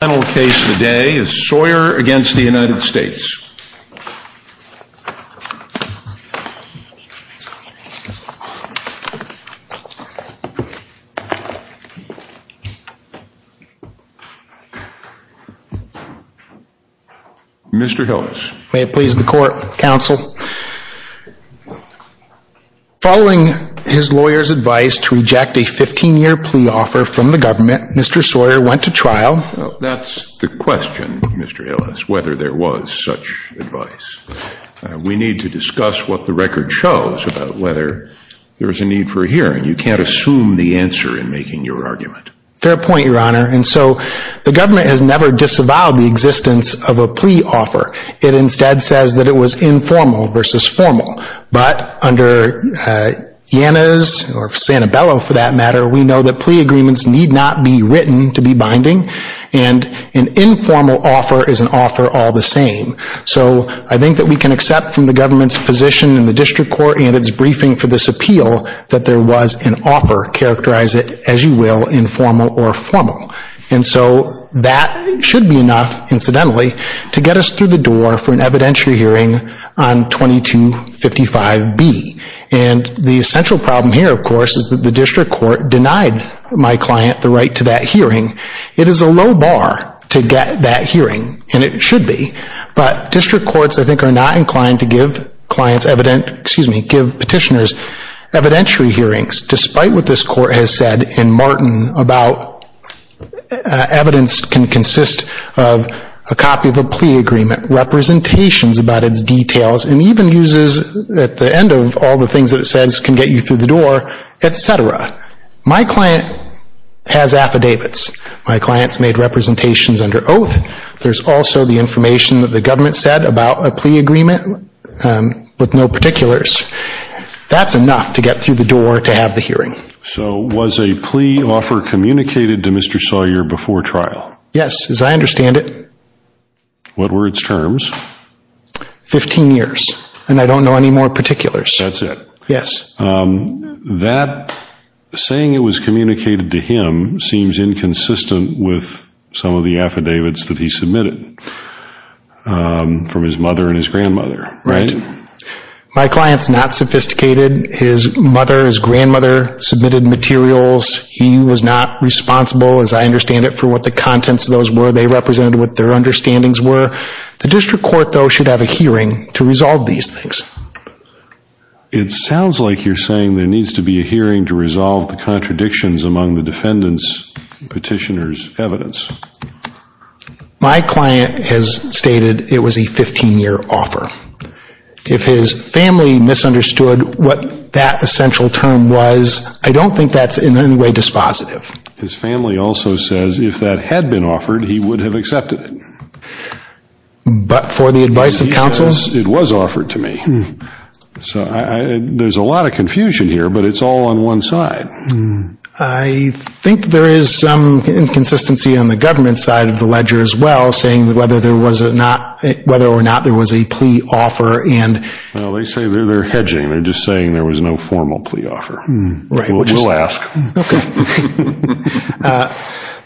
The final case today is Sawyer v. United States. Mr. Hillis. May it please the court, counsel. Following his lawyer's advice to reject a 15-year plea offer from the government, Mr. Sawyer went to trial. That's the question, Mr. Hillis, whether there was such advice. We need to discuss what the record shows about whether there was a need for a hearing. You can't assume the answer in making your argument. Fair point, Your Honor. And so the government has never disavowed the existence of a plea offer. It instead says that it was informal versus formal. But under YANAS, or Santabello for that matter, we know that plea agreements need not be written to be binding. And an informal offer is an offer all the same. So I think that we can accept from the government's position in the district court and its briefing for this appeal that there was an offer. Characterize it as you will, informal or formal. And so that should be enough, incidentally, to get us through the door for an evidentiary hearing on 2255B. And the essential problem here, of course, is that the district court denied my client the right to that hearing. It is a low bar to get that hearing, and it should be. But district courts, I think, are not inclined to give petitioners evidentiary hearings, despite what this court has said in Martin about evidence can consist of a copy of a plea agreement, representations about its details, and even uses at the end of all the things that it says can get you through the door, etc. My client has affidavits. My client's made representations under oath. There's also the information that the government said about a plea agreement with no particulars. That's enough to get through the door to have the hearing. So was a plea offer communicated to Mr. Sawyer before trial? Yes, as I understand it. What were its terms? Fifteen years, and I don't know any more particulars. That's it? Yes. That saying it was communicated to him seems inconsistent with some of the affidavits that he submitted from his mother and his grandmother, right? Right. My client's not sophisticated. His mother, his grandmother submitted materials. He was not responsible, as I understand it, for what the contents of those were. They represented what their understandings were. The district court, though, should have a hearing to resolve these things. It sounds like you're saying there needs to be a hearing to resolve the contradictions among the defendant's petitioner's evidence. My client has stated it was a 15-year offer. If his family misunderstood what that essential term was, I don't think that's in any way dispositive. His family also says if that had been offered, he would have accepted it. But for the advice of counsel? It was offered to me. There's a lot of confusion here, but it's all on one side. I think there is some inconsistency on the government side of the ledger as well, saying whether or not there was a plea offer. They say they're hedging. They're just saying there was no formal plea offer. We'll ask.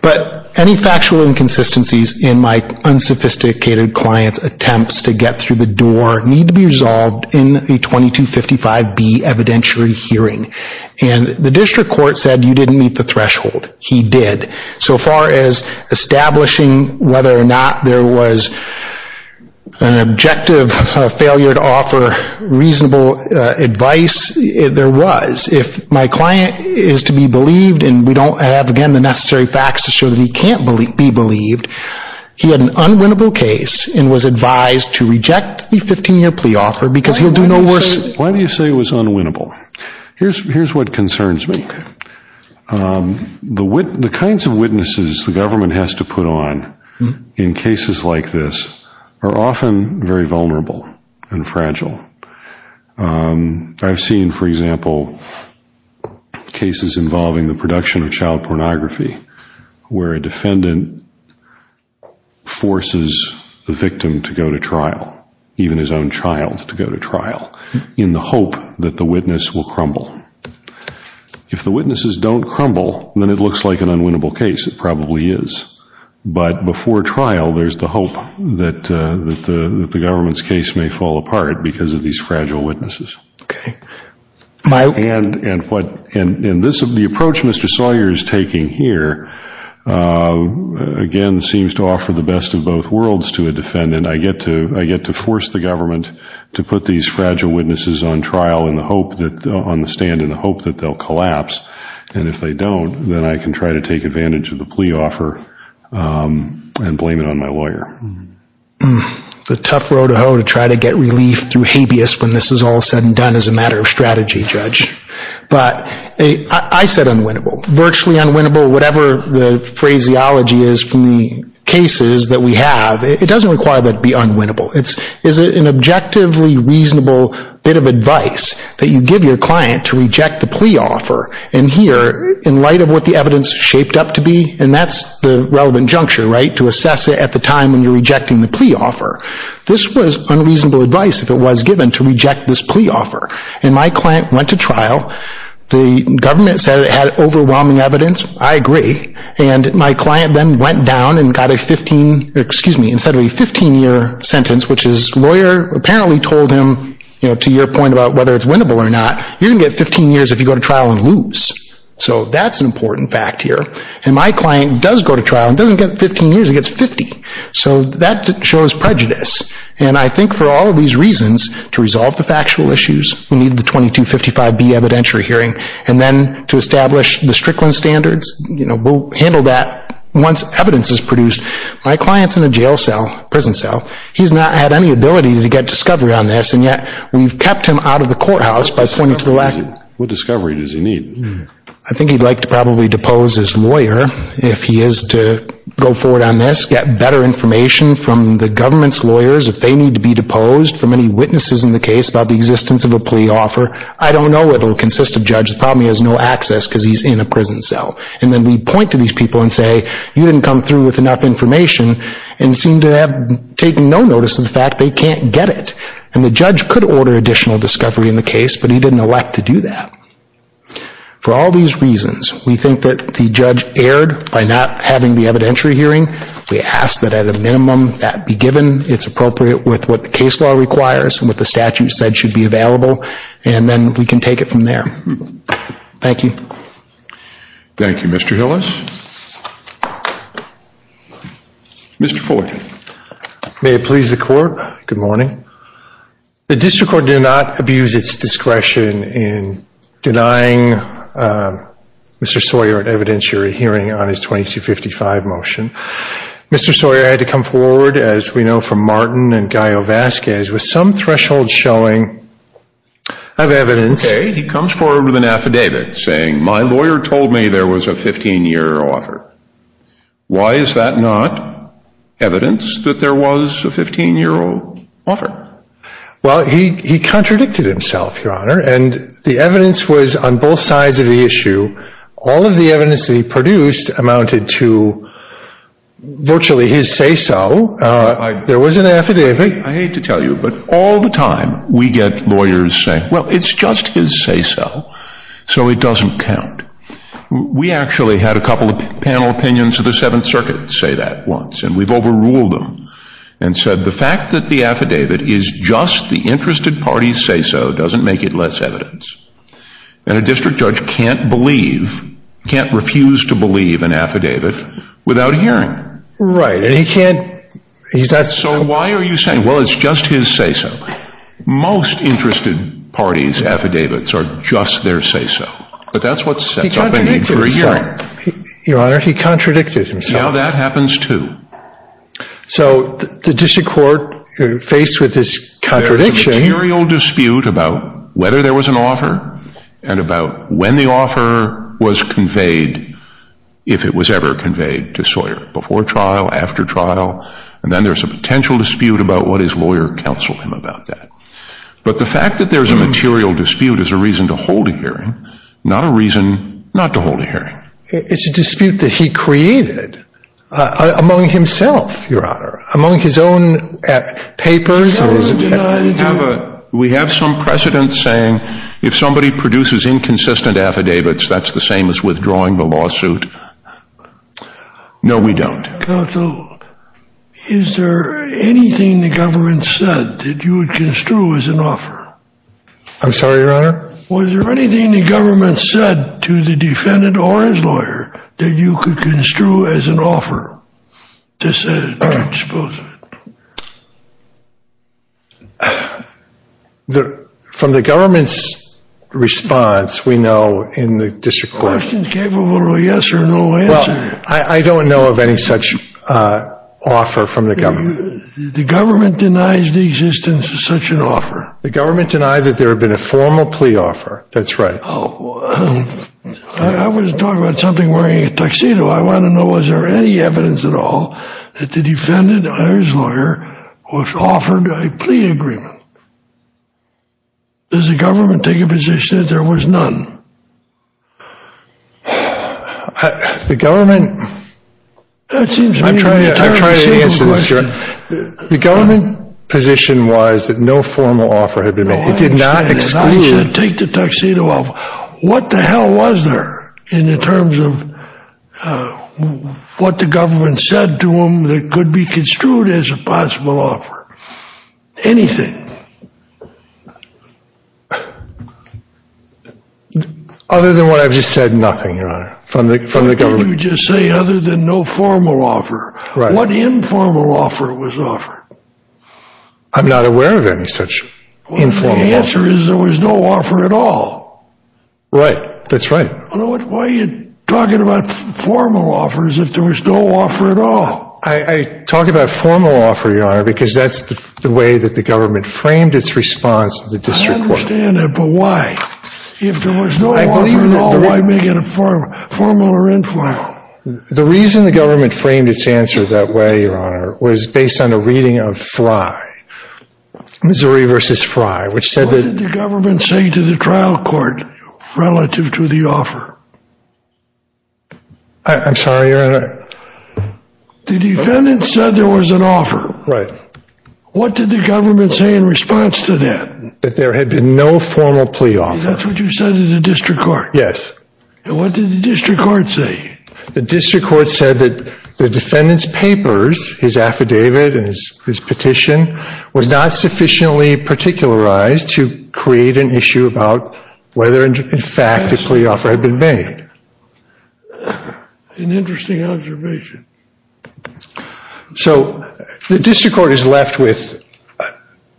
But any factual inconsistencies in my unsophisticated client's attempts to get through the door need to be resolved in the 2255B evidentiary hearing. The district court said you didn't meet the threshold. He did. So far as establishing whether or not there was an objective failure to offer reasonable advice, there was. If my client is to be believed, and we don't have, again, the necessary facts to show that he can't be believed, he had an unwinnable case and was advised to reject the 15-year plea offer because he'll do no worse. Why do you say it was unwinnable? Here's what concerns me. The kinds of witnesses the government has to put on in cases like this are often very vulnerable and fragile. I've seen, for example, cases involving the production of child pornography where a defendant forces the victim to go to trial, even his own child to go to trial, in the hope that the witness will crumble. If the witnesses don't crumble, then it looks like an unwinnable case. It probably is. But before trial, there's the hope that the government's case may fall apart because of these fragile witnesses. And the approach Mr. Sawyer is taking here, again, seems to offer the best of both worlds to a defendant. I get to force the government to put these fragile witnesses on trial on the stand in the hope that they'll collapse. And if they don't, then I can try to take advantage of the plea offer and blame it on my lawyer. It's a tough row to hoe to try to get relief through habeas when this is all said and done as a matter of strategy, Judge. But I said unwinnable. Virtually unwinnable, whatever the phraseology is from the cases that we have, it doesn't require that it be unwinnable. It's an objectively reasonable bit of advice that you give your client to reject the plea offer. And here, in light of what the evidence shaped up to be, and that's the relevant juncture, right? To assess it at the time when you're rejecting the plea offer. This was unreasonable advice if it was given to reject this plea offer. And my client went to trial. The government said it had overwhelming evidence. I agree. And my client then went down and got a 15, excuse me, instead of a 15-year sentence, which his lawyer apparently told him, you know, to your point about whether it's winnable or not, you're going to get 15 years if you go to trial and lose. So that's an important fact here. And my client does go to trial and doesn't get 15 years, he gets 50. So that shows prejudice. And I think for all of these reasons, to resolve the factual issues, we need the 2255B evidentiary hearing. And then to establish the Strickland standards, you know, we'll handle that once evidence is produced. My client's in a jail cell, prison cell. He's not had any ability to get discovery on this, and yet we've kept him out of the courthouse by pointing to the lack. What discovery does he need? I think he'd like to probably depose his lawyer if he is to go forward on this, get better information from the government's lawyers if they need to be deposed, from any witnesses in the case about the existence of a plea offer. I don't know it will consist of judges. The problem is he has no access because he's in a prison cell. And then we point to these people and say, you didn't come through with enough information and seem to have taken no notice of the fact they can't get it. And the judge could order additional discovery in the case, but he didn't elect to do that. For all these reasons, we think that the judge erred by not having the evidentiary hearing. We ask that at a minimum that be given. It's appropriate with what the case law requires and what the statute said should be available. And then we can take it from there. Thank you. Thank you, Mr. Hillis. Mr. Foy. May it please the court. Good morning. The district court did not abuse its discretion in denying Mr. Sawyer an evidentiary hearing on his 2255 motion. Mr. Sawyer had to come forward, as we know from Martin and Guy Ovasquez, with some threshold showing of evidence. Okay. He comes forward with an affidavit saying, my lawyer told me there was a 15-year offer. Why is that not evidence that there was a 15-year offer? Well, he contradicted himself, Your Honor. And the evidence was on both sides of the issue. All of the evidence that he produced amounted to virtually his say-so. There was an affidavit. I hate to tell you, but all the time we get lawyers saying, well, it's just his say-so, so it doesn't count. We actually had a couple of panel opinions of the Seventh Circuit say that once, and we've overruled them and said the fact that the affidavit is just the interested party's say-so doesn't make it less evidence. And a district judge can't believe, can't refuse to believe an affidavit without hearing. Right. And he can't. So why are you saying, well, it's just his say-so? Most interested parties' affidavits are just their say-so. But that's what sets up a need for a hearing. He contradicted himself. Your Honor, he contradicted himself. Now that happens, too. So the district court, faced with this contradiction. There's a material dispute about whether there was an offer and about when the offer was conveyed, if it was ever conveyed to Sawyer, before trial, after trial, and then there's a potential dispute about what his lawyer counseled him about that. But the fact that there's a material dispute is a reason to hold a hearing, not a reason not to hold a hearing. It's a dispute that he created among himself, Your Honor, among his own papers. We have some precedent saying if somebody produces inconsistent affidavits, that's the same as withdrawing the lawsuit. No, we don't. Counsel, is there anything the government said that you would construe as an offer? I'm sorry, Your Honor? Was there anything the government said to the defendant or his lawyer that you could construe as an offer? From the government's response, we know in the district court. Questions capable of a yes or no answer. Well, I don't know of any such offer from the government. The government denies the existence of such an offer. The government denied that there had been a formal plea offer. That's right. I was talking about something wearing a tuxedo. I want to know, was there any evidence at all that the defendant or his lawyer was offered a plea agreement? Does the government take a position that there was none? The government... I'm trying to answer this, Your Honor. The government position was that no formal offer had been made. It did not exclude... It did not take the tuxedo off. What the hell was there in the terms of what the government said to him that could be construed as a possible offer? Anything. Other than what I've just said, nothing, Your Honor, from the government. What did you just say, other than no formal offer? What informal offer was offered? I'm not aware of any such informal offer. The answer is there was no offer at all. Right, that's right. Why are you talking about formal offers if there was no offer at all? I talk about formal offer, Your Honor, because that's the way that the government framed its response to the district court. I understand that, but why? If there was no offer at all, why make it a formal or informal? The reason the government framed its answer that way, Your Honor, was based on a reading of Frye. Missouri v. Frye, which said that... What did the government say to the trial court relative to the offer? I'm sorry, Your Honor. The defendant said there was an offer. Right. What did the government say in response to that? That there had been no formal plea offer. That's what you said to the district court? Yes. And what did the district court say? The district court said that the defendant's papers, his affidavit and his petition, was not sufficiently particularized to create an issue about whether, in fact, a plea offer had been made. An interesting observation. So the district court is left with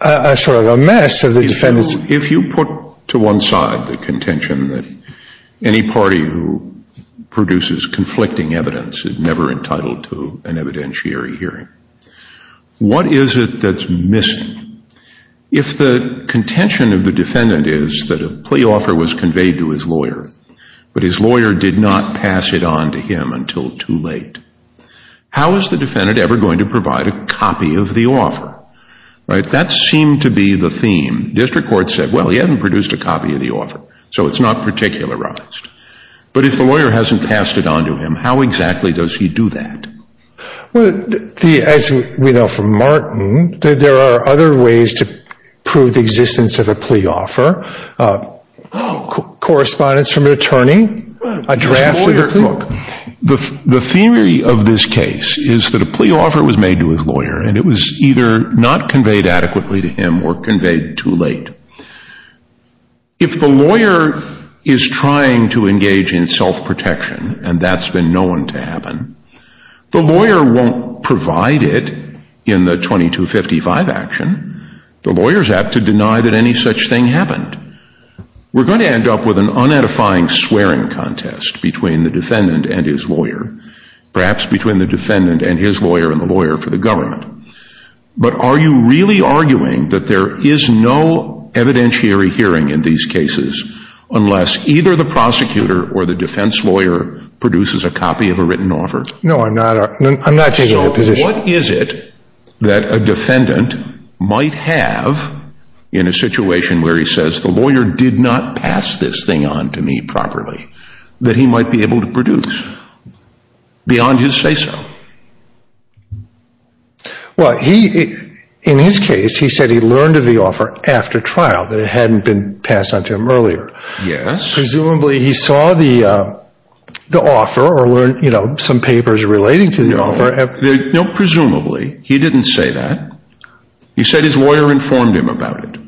a sort of a mess of the defendant's... If you put to one side the contention that any party who produces conflicting evidence is never entitled to an evidentiary hearing, what is it that's missing? If the contention of the defendant is that a plea offer was conveyed to his lawyer, but his lawyer did not pass it on to him until too late, how is the defendant ever going to provide a copy of the offer? That seemed to be the theme. District court said, well, he hadn't produced a copy of the offer, so it's not particularized. But if the lawyer hasn't passed it on to him, how exactly does he do that? As we know from Martin, there are other ways to prove the existence of a plea offer. Correspondence from an attorney, a draft of the plea. The theory of this case is that a plea offer was made to his lawyer, and it was either not conveyed adequately to him or conveyed too late. If the lawyer is trying to engage in self-protection, and that's been known to happen, the lawyer won't provide it in the 2255 action. The lawyer is apt to deny that any such thing happened. We're going to end up with an unedifying swearing contest between the defendant and his lawyer, perhaps between the defendant and his lawyer and the lawyer for the government. But are you really arguing that there is no evidentiary hearing in these cases unless either the prosecutor or the defense lawyer produces a copy of a written offer? No, I'm not taking that position. What is it that a defendant might have in a situation where he says, the lawyer did not pass this thing on to me properly, that he might be able to produce beyond his say-so? Well, in his case, he said he learned of the offer after trial, that it hadn't been passed on to him earlier. Presumably he saw the offer or learned some papers relating to the offer. No, presumably he didn't say that. He said his lawyer informed him about it.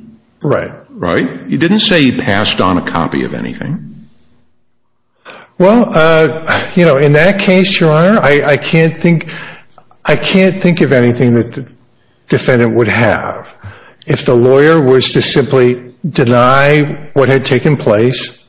Right. Right? He didn't say he passed on a copy of anything. Well, you know, in that case, Your Honor, I can't think of anything that the defendant would have. If the lawyer was to simply deny what had taken place,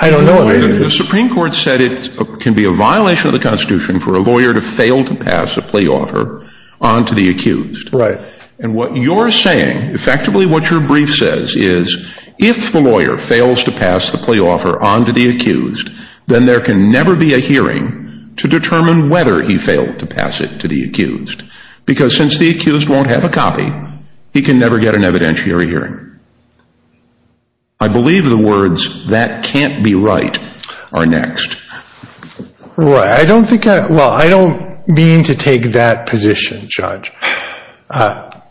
I don't know. Well, the Supreme Court said it can be a violation of the Constitution for a lawyer to fail to pass a plea offer on to the accused. Right. And what you're saying, effectively what your brief says is, if the lawyer fails to pass the plea offer on to the accused, then there can never be a hearing to determine whether he failed to pass it to the accused. Because since the accused won't have a copy, he can never get an evidentiary hearing. I believe the words, that can't be right, are next. Right. I don't think I, well, I don't mean to take that position, Judge. Our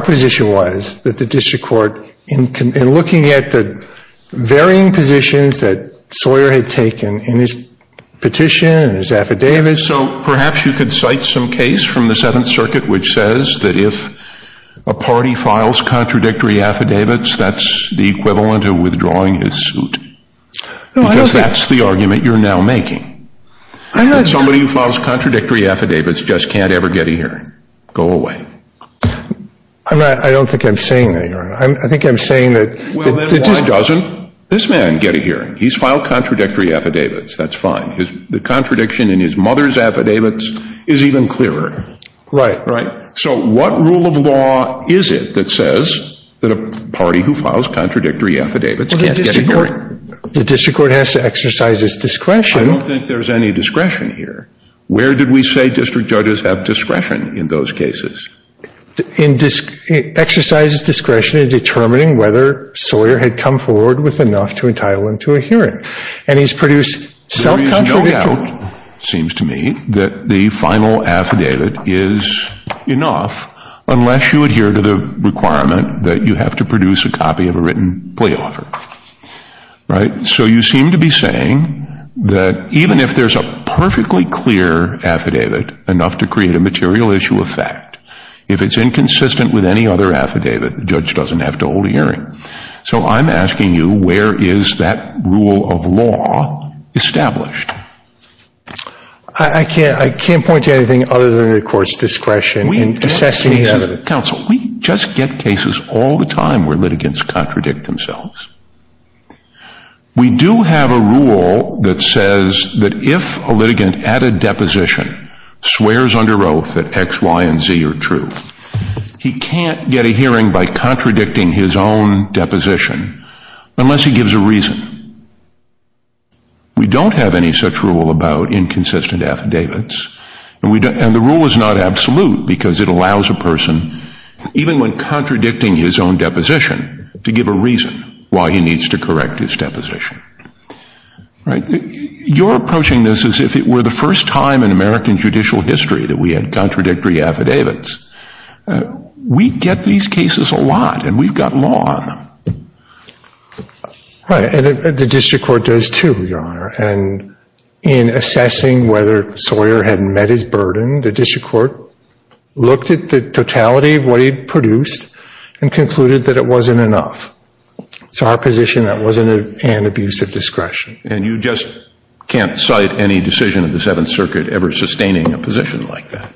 position was that the district court, in looking at the varying positions that Sawyer had taken in his petition and his affidavit. So perhaps you could cite some case from the Seventh Circuit which says that if a party files contradictory affidavits, that's the equivalent of withdrawing his suit. Because that's the argument you're now making. Somebody who files contradictory affidavits just can't ever get a hearing. Go away. I don't think I'm saying that, Your Honor. I think I'm saying that. Well, then why doesn't this man get a hearing? He's filed contradictory affidavits. That's fine. The contradiction in his mother's affidavits is even clearer. Right. So what rule of law is it that says that a party who files contradictory affidavits can't get a hearing? The district court has to exercise its discretion. I don't think there's any discretion here. Where did we say district judges have discretion in those cases? It exercises discretion in determining whether Sawyer had come forward with enough to entitle him to a hearing. And he's produced self-contradictory. There is no doubt, it seems to me, that the final affidavit is enough unless you adhere to the requirement that you have to produce a copy of a written plea offer. Right. So you seem to be saying that even if there's a perfectly clear affidavit, enough to create a material issue of fact, if it's inconsistent with any other affidavit, the judge doesn't have to hold a hearing. So I'm asking you, where is that rule of law established? I can't point to anything other than the court's discretion in assessing the evidence. We just get cases all the time where litigants contradict themselves. We do have a rule that says that if a litigant at a deposition swears under oath that X, Y, and Z are true, he can't get a hearing by contradicting his own deposition unless he gives a reason. We don't have any such rule about inconsistent affidavits. And the rule is not absolute because it allows a person, even when contradicting his own deposition, to give a reason why he needs to correct his deposition. Right. You're approaching this as if it were the first time in American judicial history that we had contradictory affidavits. We get these cases a lot, and we've got law on them. Right. And the district court does, too, Your Honor. And in assessing whether Sawyer had met his burden, the district court looked at the totality of what he'd produced and concluded that it wasn't enough. It's our position that it wasn't an abuse of discretion. And you just can't cite any decision of the Seventh Circuit ever sustaining a position like that.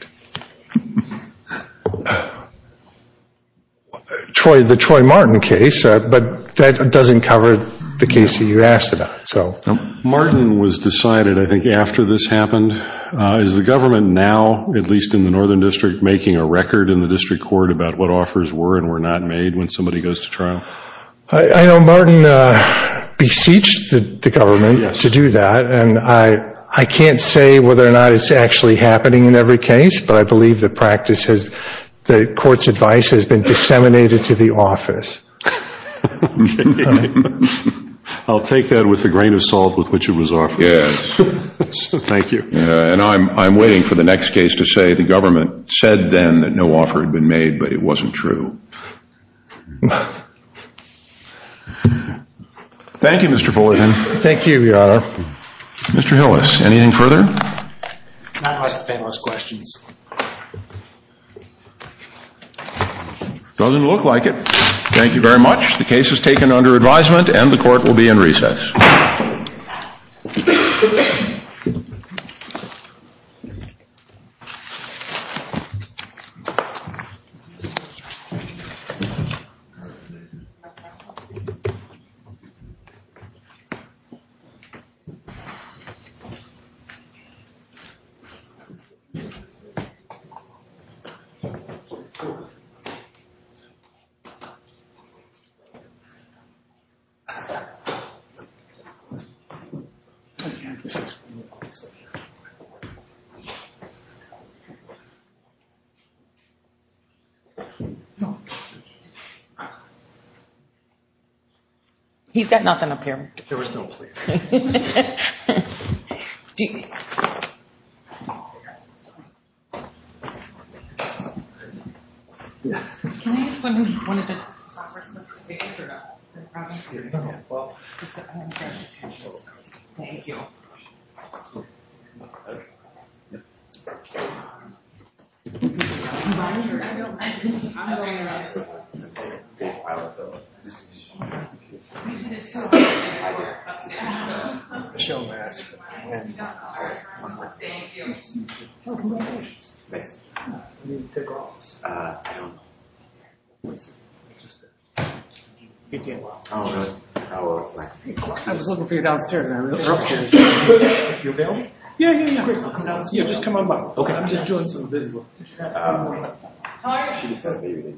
The Troy Martin case, but that doesn't cover the case that you asked about. Martin was decided, I think, after this happened. Is the government now, at least in the Northern District, making a record in the district court about what offers were and were not made when somebody goes to trial? I know Martin beseeched the government to do that. Yes. And I can't say whether or not it's actually happening in every case, but I believe the court's advice has been disseminated to the office. I'll take that with a grain of salt with which it was offered. Yes. Thank you. And I'm waiting for the next case to say the government said then that no offer had been made, but it wasn't true. Thank you, Mr. Fullerton. Thank you, Your Honor. Mr. Hillis, anything further? I'll ask the panelists questions. Doesn't look like it. Thank you very much. The case is taken under advisement and the court will be in recess. He's got nothing up here. There was no plea. Thank you. I just wanted to stop for a second. Thank you. I was looking for you downstairs. You available? Yeah, yeah, yeah. Yeah, just come on by. Okay. I'm just doing some business.